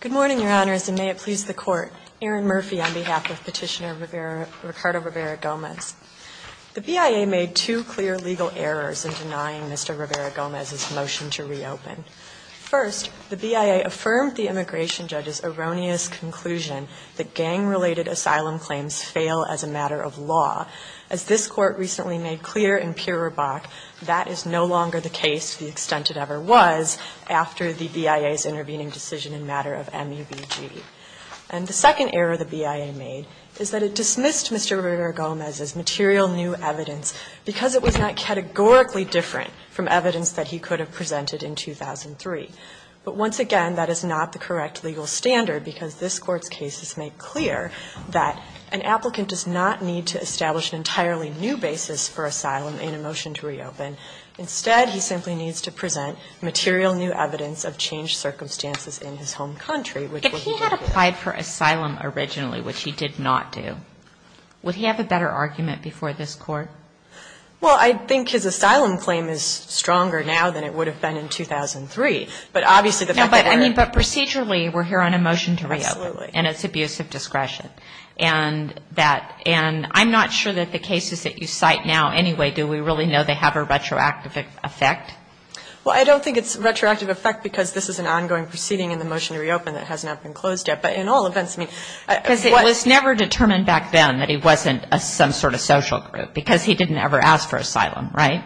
Good morning, Your Honors, and may it please the Court. Erin Murphy on behalf of Petitioner Ricardo Rivera-Gomez. The BIA made two clear legal errors in denying Mr. Rivera-Gomez's motion to reopen. First, the BIA affirmed the immigration judge's erroneous conclusion that gang-related asylum claims fail as a matter of law. As this Court recently made clear in Pirro-Bach, that is no longer the case to the extent it ever was after the BIA's intervening decision in matter of MUBG. And the second error the BIA made is that it dismissed Mr. Rivera-Gomez's material new evidence because it was not categorically different from evidence that he could have presented in 2003. But once again, that is not the correct legal standard because this Court's case has made clear that an applicant does not need to establish an entirely new basis for asylum in a motion to reopen. Instead, he simply needs to present material new evidence of changed circumstances in his home country, which was what he did. If he had applied for asylum originally, which he did not do, would he have a better argument before this Court? Well, I think his asylum claim is stronger now than it would have been in 2003. But obviously the fact that we're here. But procedurally, we're here on a motion to reopen. Absolutely. And it's abuse of discretion. And that – and I'm not sure that the cases that you cite now anyway, do we really know they have a retroactive effect? Well, I don't think it's a retroactive effect because this is an ongoing proceeding in the motion to reopen that has not been closed yet. But in all events, I mean, what – I guess he didn't ever ask for asylum, right?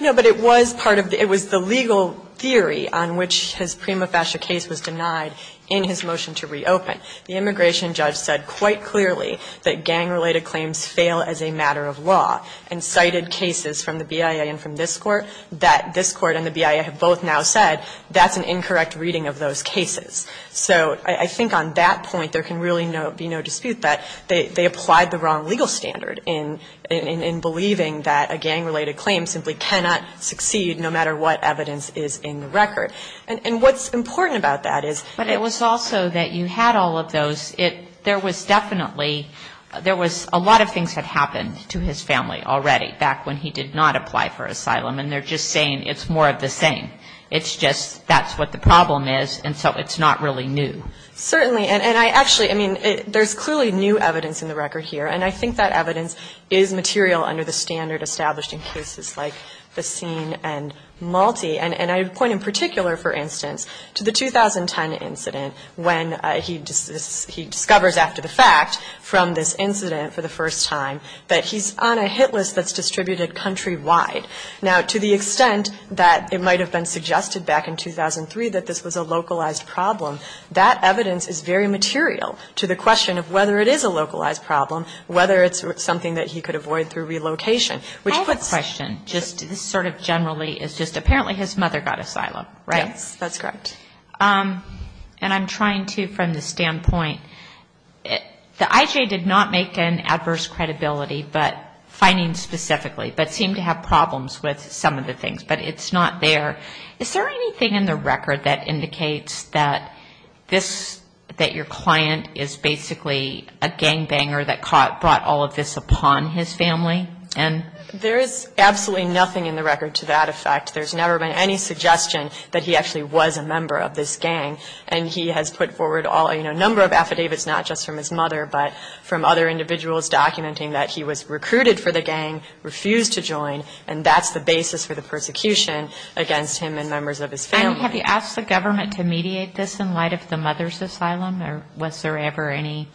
No. But it was part of the – it was the legal theory on which his prima facie case was denied in his motion to reopen. The immigration judge said quite clearly that gang-related claims fail as a matter of law and cited cases from the BIA and from this Court that this Court and the BIA have both now said that's an incorrect reading of those cases. So I think on that point, there can really be no dispute that they applied the wrong legal standard in believing that a gang-related claim simply cannot succeed no matter what evidence is in the record. And what's important about that is – But it was also that you had all of those. There was definitely – there was a lot of things that happened to his family already back when he did not apply for asylum. And they're just saying it's more of the same. It's just that's what the problem is, and so it's not really new. Certainly. And I actually – I mean, there's clearly new evidence in the record here. And I think that evidence is material under the standard established in cases like Bassin and Malti. And I would point in particular, for instance, to the 2010 incident when he discovers after the fact from this incident for the first time that he's on a hit list that's distributed countrywide. Now, to the extent that it might have been suggested back in 2003 that this was a localized problem, that evidence is very material to the question of whether it is a localized problem, whether it's something that he could avoid through relocation, which puts – I have a question. Just sort of generally, it's just apparently his mother got asylum, right? Yes, that's correct. And I'm trying to, from the standpoint – the IJ did not make an adverse credibility, but findings specifically, but seemed to have problems with some of the things. But it's not there. Is there anything in the record that indicates that this – that your client is basically a gangbanger that brought all of this upon his family? There is absolutely nothing in the record to that effect. There's never been any suggestion that he actually was a member of this gang. And he has put forward a number of affidavits, not just from his mother, but from other individuals documenting that he was recruited for the gang, refused to join, and that's the basis for the persecution against him and members of his family. And have you asked the government to mediate this in light of the mother's asylum? Or was there ever any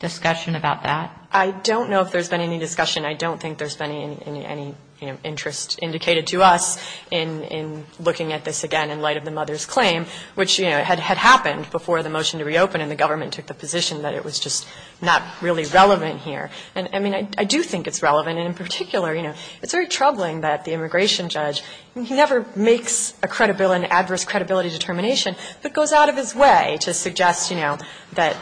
discussion about that? I don't know if there's been any discussion. I don't think there's been any, you know, interest indicated to us in looking at this again in light of the mother's claim, which, you know, had happened before the motion to reopen and the government took the position that it was just not really relevant here. And, I mean, I do think it's relevant. And in particular, you know, it's very troubling that the immigration judge, he never makes a credibility, an adverse credibility determination, but goes out of his way to suggest, you know, that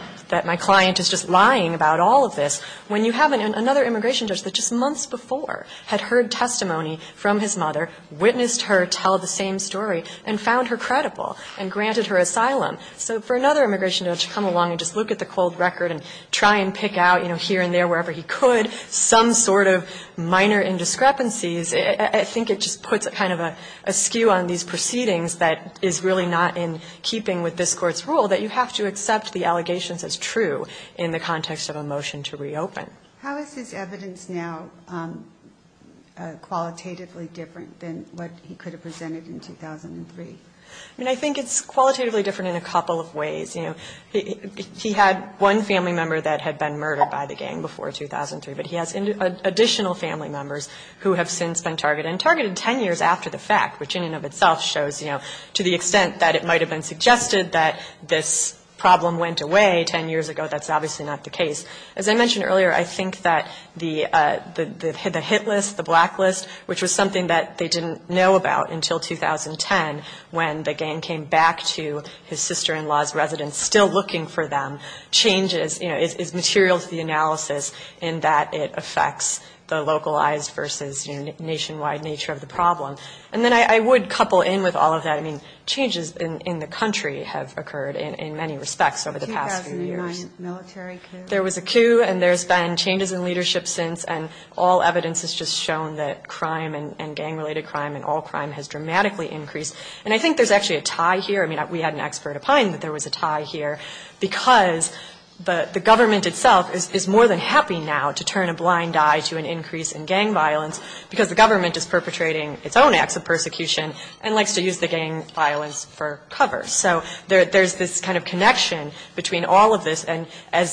my client is just lying about all of this, when you have another immigration judge that just months before had heard testimony from his mother, witnessed her tell the same story, and found her credible and granted her asylum. So for another immigration judge to come along and just look at the cold record and try and pick out, you know, here and there, wherever he could, some sort of minor indiscrepancies, I think it just puts a kind of a skew on these proceedings that is really not in keeping with this Court's rule, that you have to accept the allegations as true in the context of a motion to reopen. How is his evidence now qualitatively different than what he could have presented in 2003? I mean, I think it's qualitatively different in a couple of ways. You know, he had one family member that had been murdered by the gang before 2003, but he has additional family members who have since been targeted, and targeted 10 years after the fact, which in and of itself shows, you know, to the extent that it might have been suggested that this problem went away 10 years ago. That's obviously not the case. As I mentioned earlier, I think that the hit list, the black list, which was something that they didn't know about until 2010, when the gang came back to his sister-in-law's residence, still looking for them, changes, you know, is material to the analysis in that it affects the localized versus nationwide nature of the problem. And then I would couple in with all of that. I mean, changes in the country have occurred in many respects over the past few years. The 2009 military coup? There was a coup, and there's been changes in leadership since, and all evidence has just shown that crime and gang-related crime and all crime has dramatically increased. And I think there's actually a tie here. I mean, we had an expert opine that there was a tie here, because the government itself is more than happy now to turn a blind eye to an increase in gang violence, because the government is perpetrating its own acts of persecution and likes to use the gang violence for cover. So there's this kind of connection between all of this. And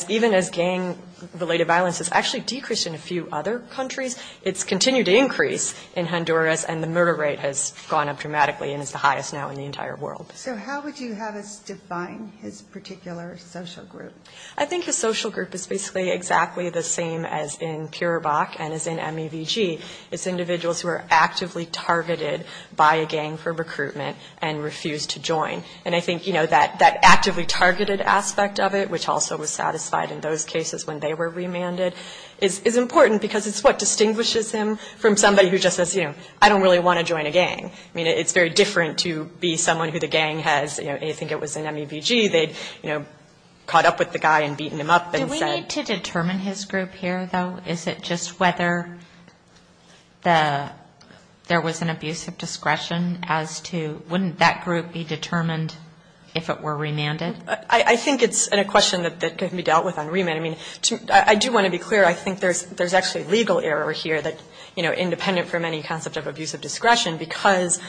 even as gang-related violence has actually decreased in a few other countries, it's continued to increase in Honduras, and the murder rate has gone up dramatically and is the highest now in the entire world. So how would you have us define his particular social group? I think his social group is basically exactly the same as in CureVac and as in MEVG. It's individuals who are actively targeted by a gang for recruitment and refuse to join. And I think, you know, that actively targeted aspect of it, which also was satisfied in those cases when they were remanded, is important, because it's what distinguishes him from somebody who just says, you know, I don't really want to join a gang. I mean, it's very different to be someone who the gang has, you know, may think it was an MEVG. They'd, you know, caught up with the guy and beaten him up and said. Do we need to determine his group here, though? Is it just whether there was an abuse of discretion as to wouldn't that group be determined if it were remanded? I think it's a question that can be dealt with on remand. I mean, I do want to be clear. I think there's actually legal error here that, you know, independent from any concept of abuse of discretion, because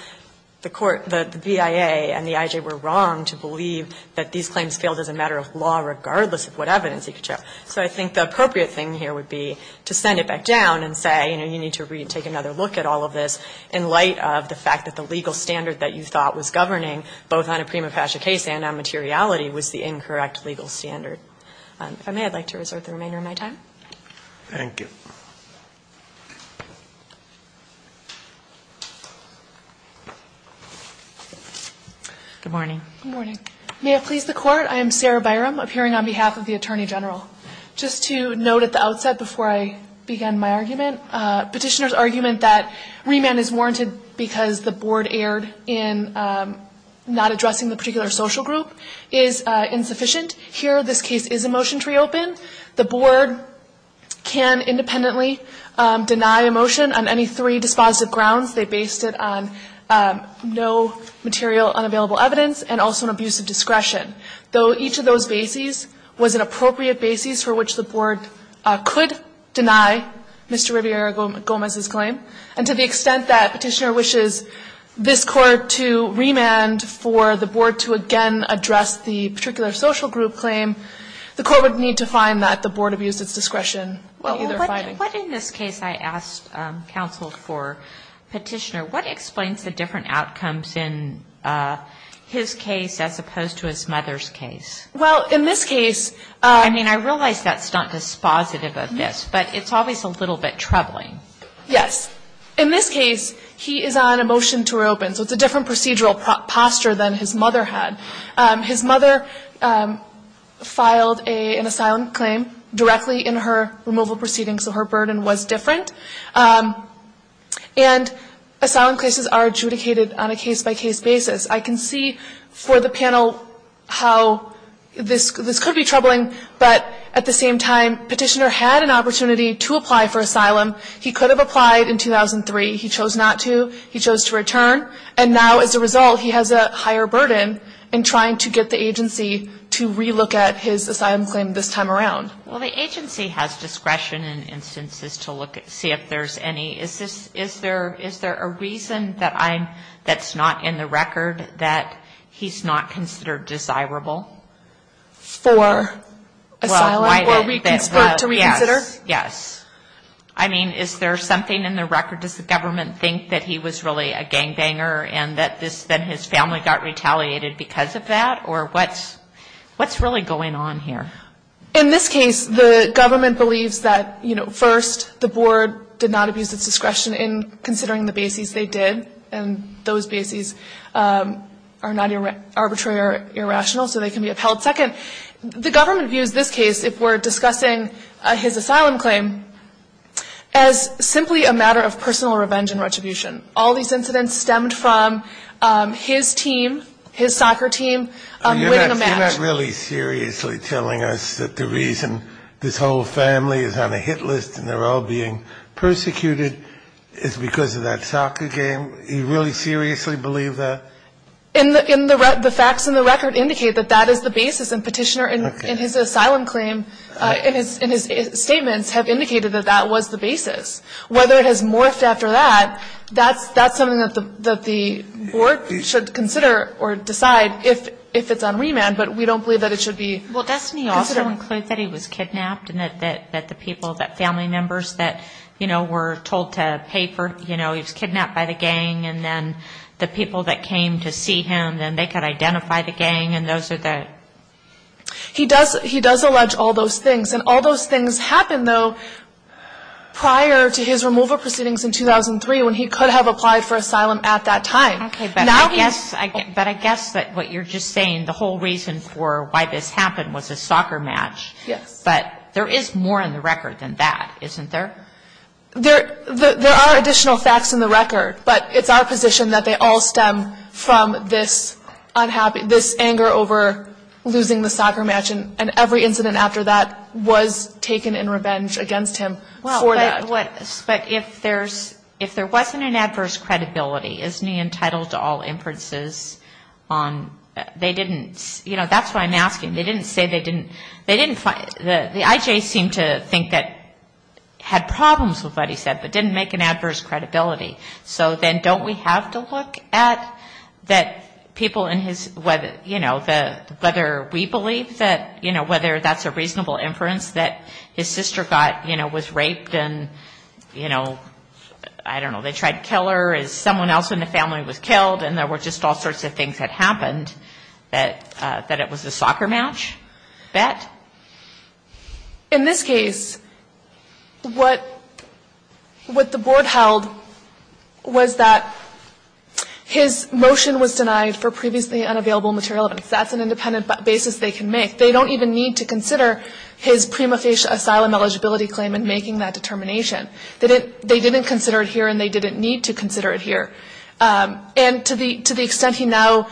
the court, the BIA and the IJ were wrong to believe that these claims failed as a matter of law, regardless of what evidence he could show. So I think the appropriate thing here would be to send it back down and say, you know, you need to take another look at all of this in light of the fact that the legal standard that you thought was governing both on a prima facie case and on materiality was the incorrect legal standard. If I may, I'd like to resort to the remainder of my time. Thank you. Good morning. Good morning. May it please the Court, I am Sarah Byram, appearing on behalf of the Attorney General. Just to note at the outset before I begin my argument, Petitioner's argument that remand is warranted because the board erred in not addressing the particular social group is insufficient. Here this case is a motion to reopen. The board can independently deny a motion on any three dispositive grounds. They based it on no material unavailable evidence and also an abuse of discretion, though each of those bases was an appropriate basis for which the board could deny Mr. Riviere-Gomez's claim. And to the extent that Petitioner wishes this Court to remand for the board to again address the particular social group claim, the Court would need to find that the board abused its discretion in either finding. But in this case, I asked counsel for Petitioner, what explains the different outcomes in his case as opposed to his mother's case? Well, in this case. I mean, I realize that's not dispositive of this, but it's always a little bit troubling. Yes. In this case, he is on a motion to reopen, so it's a different procedural posture than his mother had. His mother filed an asylum claim directly in her removal proceedings, so her burden was different. And asylum cases are adjudicated on a case-by-case basis. I can see for the panel how this could be troubling, but at the same time, Petitioner had an opportunity to apply for asylum. He could have applied in 2003. He chose not to. He chose to return. And now, as a result, he has a higher burden in trying to get the agency to relook at his asylum claim this time around. Well, the agency has discretion in instances to look at, see if there's any. Is there a reason that's not in the record that he's not considered desirable? For asylum or to reconsider? Yes. I mean, is there something in the record? Does the government think that he was really a gangbanger and that his family got retaliated because of that? Or what's really going on here? In this case, the government believes that, you know, first the board did not abuse its discretion in considering the bases they did, and those bases are not arbitrary or irrational, so they can be upheld. Second, the government views this case, if we're discussing his asylum claim, as simply a matter of personal revenge and retribution. All these incidents stemmed from his team, his soccer team, winning a match. Are you not really seriously telling us that the reason this whole family is on a hit list and they're all being persecuted is because of that soccer game? Do you really seriously believe that? The facts in the record indicate that that is the basis, and Petitioner in his asylum claim, in his statements, have indicated that that was the basis. Whether it has morphed after that, that's something that the board should consider or decide if it's on remand, but we don't believe that it should be considered. Well, doesn't he also include that he was kidnapped and that the people, that family members that, you know, were told to pay for, you know, he was kidnapped by the gang, and then the people that came to see him, then they could identify the gang, and those are the. He does allege all those things. And all those things happened, though, prior to his removal proceedings in 2003 when he could have applied for asylum at that time. Okay, but I guess that what you're just saying, the whole reason for why this happened was a soccer match. Yes. But there is more in the record than that, isn't there? There are additional facts in the record, but it's our position that they all stem from this anger over losing the soccer match and every incident after that was taken in revenge against him for that. Well, but if there's, if there wasn't an adverse credibility, isn't he entitled to all inferences? They didn't, you know, that's why I'm asking. They didn't say they didn't, they didn't, the IJ seemed to think that, had problems with what he said, but didn't make an adverse credibility. So then don't we have to look at that people in his, whether, you know, whether we believe that, you know, whether that's a reasonable inference, that his sister got, you know, was raped and, you know, I don't know, they tried to kill her as someone else in the family was killed and there were just all sorts of things that happened, that it was a soccer match, bet? In this case, what the board held was that his motion was denied for previously unavailable material evidence. That's an independent basis they can make. They don't even need to consider his prima facie asylum eligibility claim in making that determination. They didn't consider it here and they didn't need to consider it here. And to the extent he now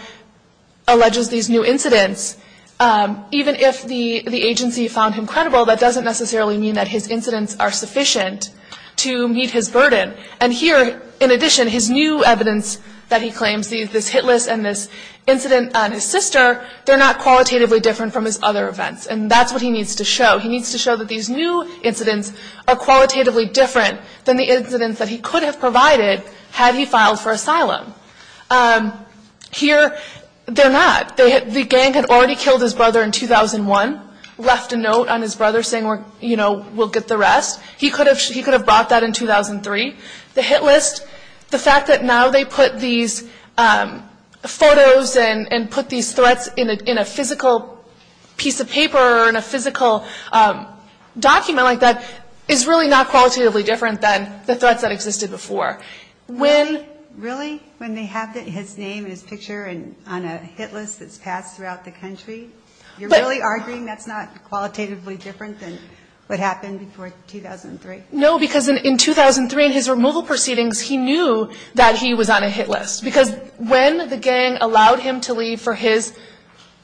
alleges these new incidents, even if the agency found him credible, that doesn't necessarily mean that his incidents are sufficient to meet his burden. And here, in addition, his new evidence that he claims, this hit list and this incident on his sister, they're not qualitatively different from his other events. And that's what he needs to show. He needs to show that these new incidents are qualitatively different than the incidents that he could have provided had he filed for asylum. Here, they're not. The gang had already killed his brother in 2001, left a note on his brother saying, you know, we'll get the rest. He could have brought that in 2003. The hit list, the fact that now they put these photos and put these threats in a physical piece of paper or in a physical document like that, is really not qualitatively different than the threats that existed before. Really? When they have his name and his picture on a hit list that's passed throughout the country? You're really arguing that's not qualitatively different than what happened before 2003? No, because in 2003, in his removal proceedings, he knew that he was on a hit list. Because when the gang allowed him to leave for his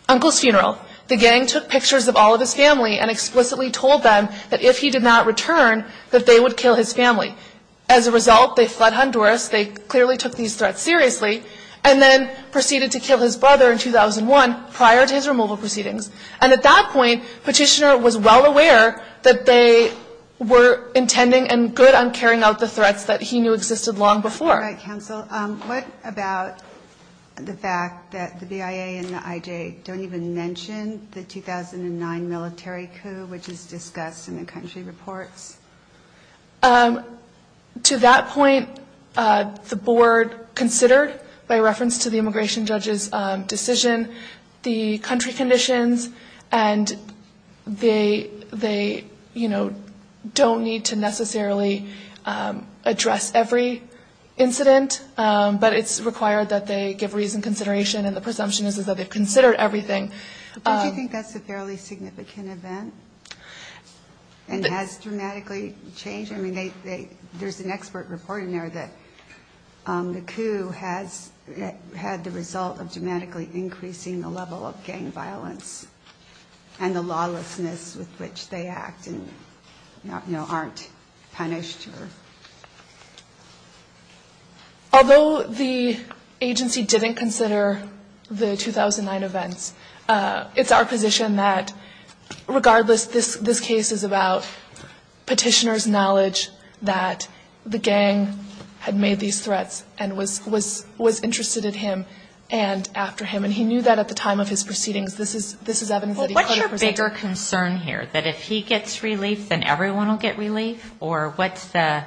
uncle's funeral, the gang took pictures of all of his family and explicitly told them that if he did not return, that they would kill his family. As a result, they fled Honduras. They clearly took these threats seriously and then proceeded to kill his brother in 2001, prior to his removal proceedings. And at that point, Petitioner was well aware that they were intending and good on carrying out the threats that he knew existed long before. All right, counsel. What about the fact that the BIA and the IJ don't even mention the 2009 military coup, which is discussed in the country reports? To that point, the board considered, by reference to the immigration judge's decision, the country conditions, and they don't need to necessarily address every incident, but it's required that they give reason, consideration, and the presumption is that they've considered everything. Don't you think that's a fairly significant event? And has dramatically changed? I mean, there's an expert report in there that the coup has had the result of dramatically increasing the level of gang violence and the lawlessness with which they act and, you know, aren't punished? Although the agency didn't consider the 2009 events, it's our position that, regardless, this case is about Petitioner's knowledge that the gang had made these threats and was interested in him and after him, and he knew that at the time of his proceedings. This is evidence that he could have presented. Well, what's your bigger concern here, that if he gets relief, then everyone will get relief? Or what's the,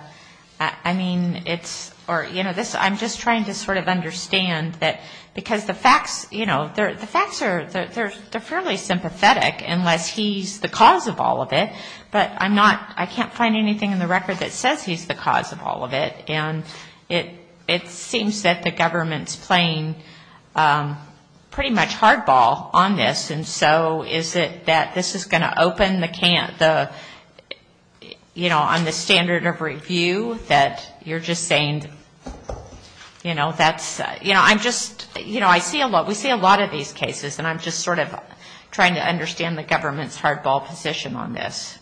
I mean, it's, or, you know, I'm just trying to sort of understand that, because the facts, you know, the facts are fairly sympathetic unless he's the cause of all of it, but I'm not, I can't find anything in the record that says he's the cause of all of it, and it seems that the government's playing pretty much hardball on this, and so is it that this is going to open the, you know, on the standard of review that you're just saying, you know, that's, you know, I'm just, you know, I see a lot, we see a lot of these cases, and I'm just sort of trying to understand the government's hardball position on this.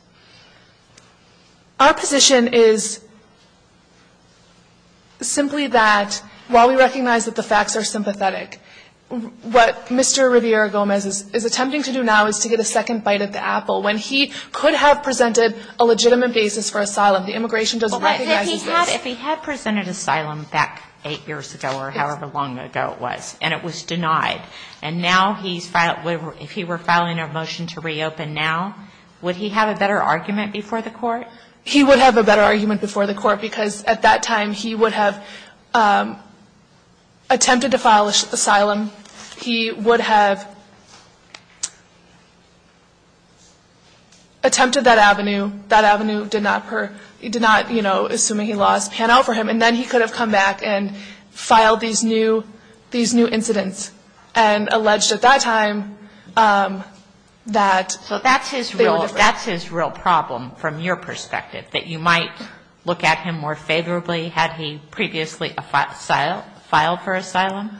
Our position is simply that, while we recognize that the facts are sympathetic, what Mr. Riviera-Gomez is attempting to do now is to get a second bite at the apple. the immigration doesn't recognize this. If he had presented asylum back eight years ago or however long ago it was, and it was denied, and now he's, if he were filing a motion to reopen now, would he have a better argument before the court? He would have a better argument before the court, because at that time he would have attempted to file asylum. He would have attempted that avenue. That avenue did not, you know, assuming he lost, pan out for him, and then he could have come back and filed these new incidents and alleged at that time that... So that's his real problem from your perspective, that you might look at him more favorably had he previously filed for asylum?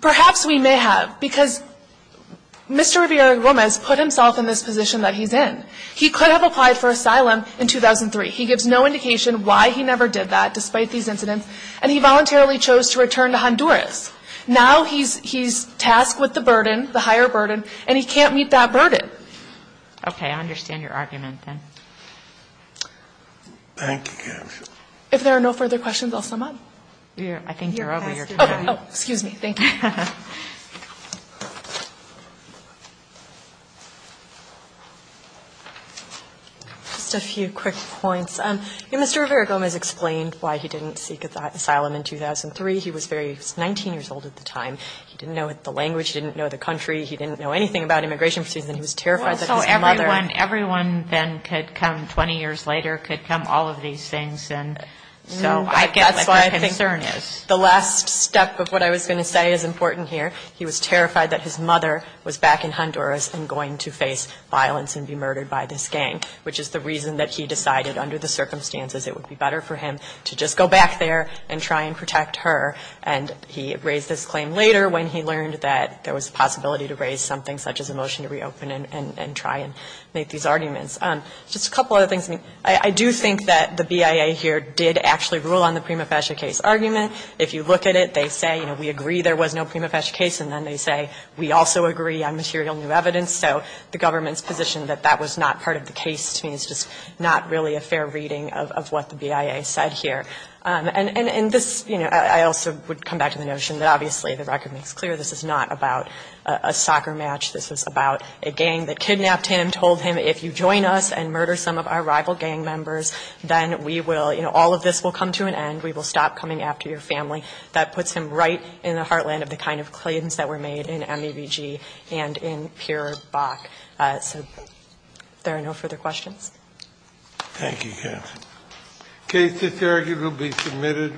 Perhaps we may have, because Mr. Riviera-Gomez put himself in this position that he's in. He could have applied for asylum in 2003. He gives no indication why he never did that, despite these incidents, and he voluntarily chose to return to Honduras. Now he's tasked with the burden, the higher burden, and he can't meet that burden. Okay. I understand your argument then. Thank you. If there are no further questions, I'll sum up. I think you're over your time. Oh, excuse me. Thank you. Just a few quick points. Mr. Riviera-Gomez explained why he didn't seek asylum in 2003. He was 19 years old at the time. He didn't know the language. He didn't know the country. He didn't know anything about immigration proceedings, and he was terrified that his mother... Well, so everyone then could come 20 years later, could come, all of these things, and so I get what your concern is. The last step of what I was going to say is important here. He was terrified that his mother was back in Honduras and going to face violence and be murdered by this gang, which is the reason that he decided under the circumstances it would be better for him to just go back there and try and protect her. And he raised this claim later when he learned that there was a possibility to raise something such as a motion to reopen and try and make these arguments. Just a couple other things. I do think that the BIA here did actually rule on the Prima Facie case argument if you look at it. They say, you know, we agree there was no Prima Facie case, and then they say we also agree on material new evidence. So the government's position that that was not part of the case, to me, is just not really a fair reading of what the BIA said here. And this, you know, I also would come back to the notion that, obviously, the record makes clear this is not about a soccer match. This is about a gang that kidnapped him, told him, if you join us and murder some of our rival gang members, then we will, you know, all of this will come to an end. We will stop coming after your family. That puts him right in the heartland of the kind of claims that were made in MABG and in Pure Bock. So if there are no further questions. Thank you, counsel. The case is here. It will be submitted.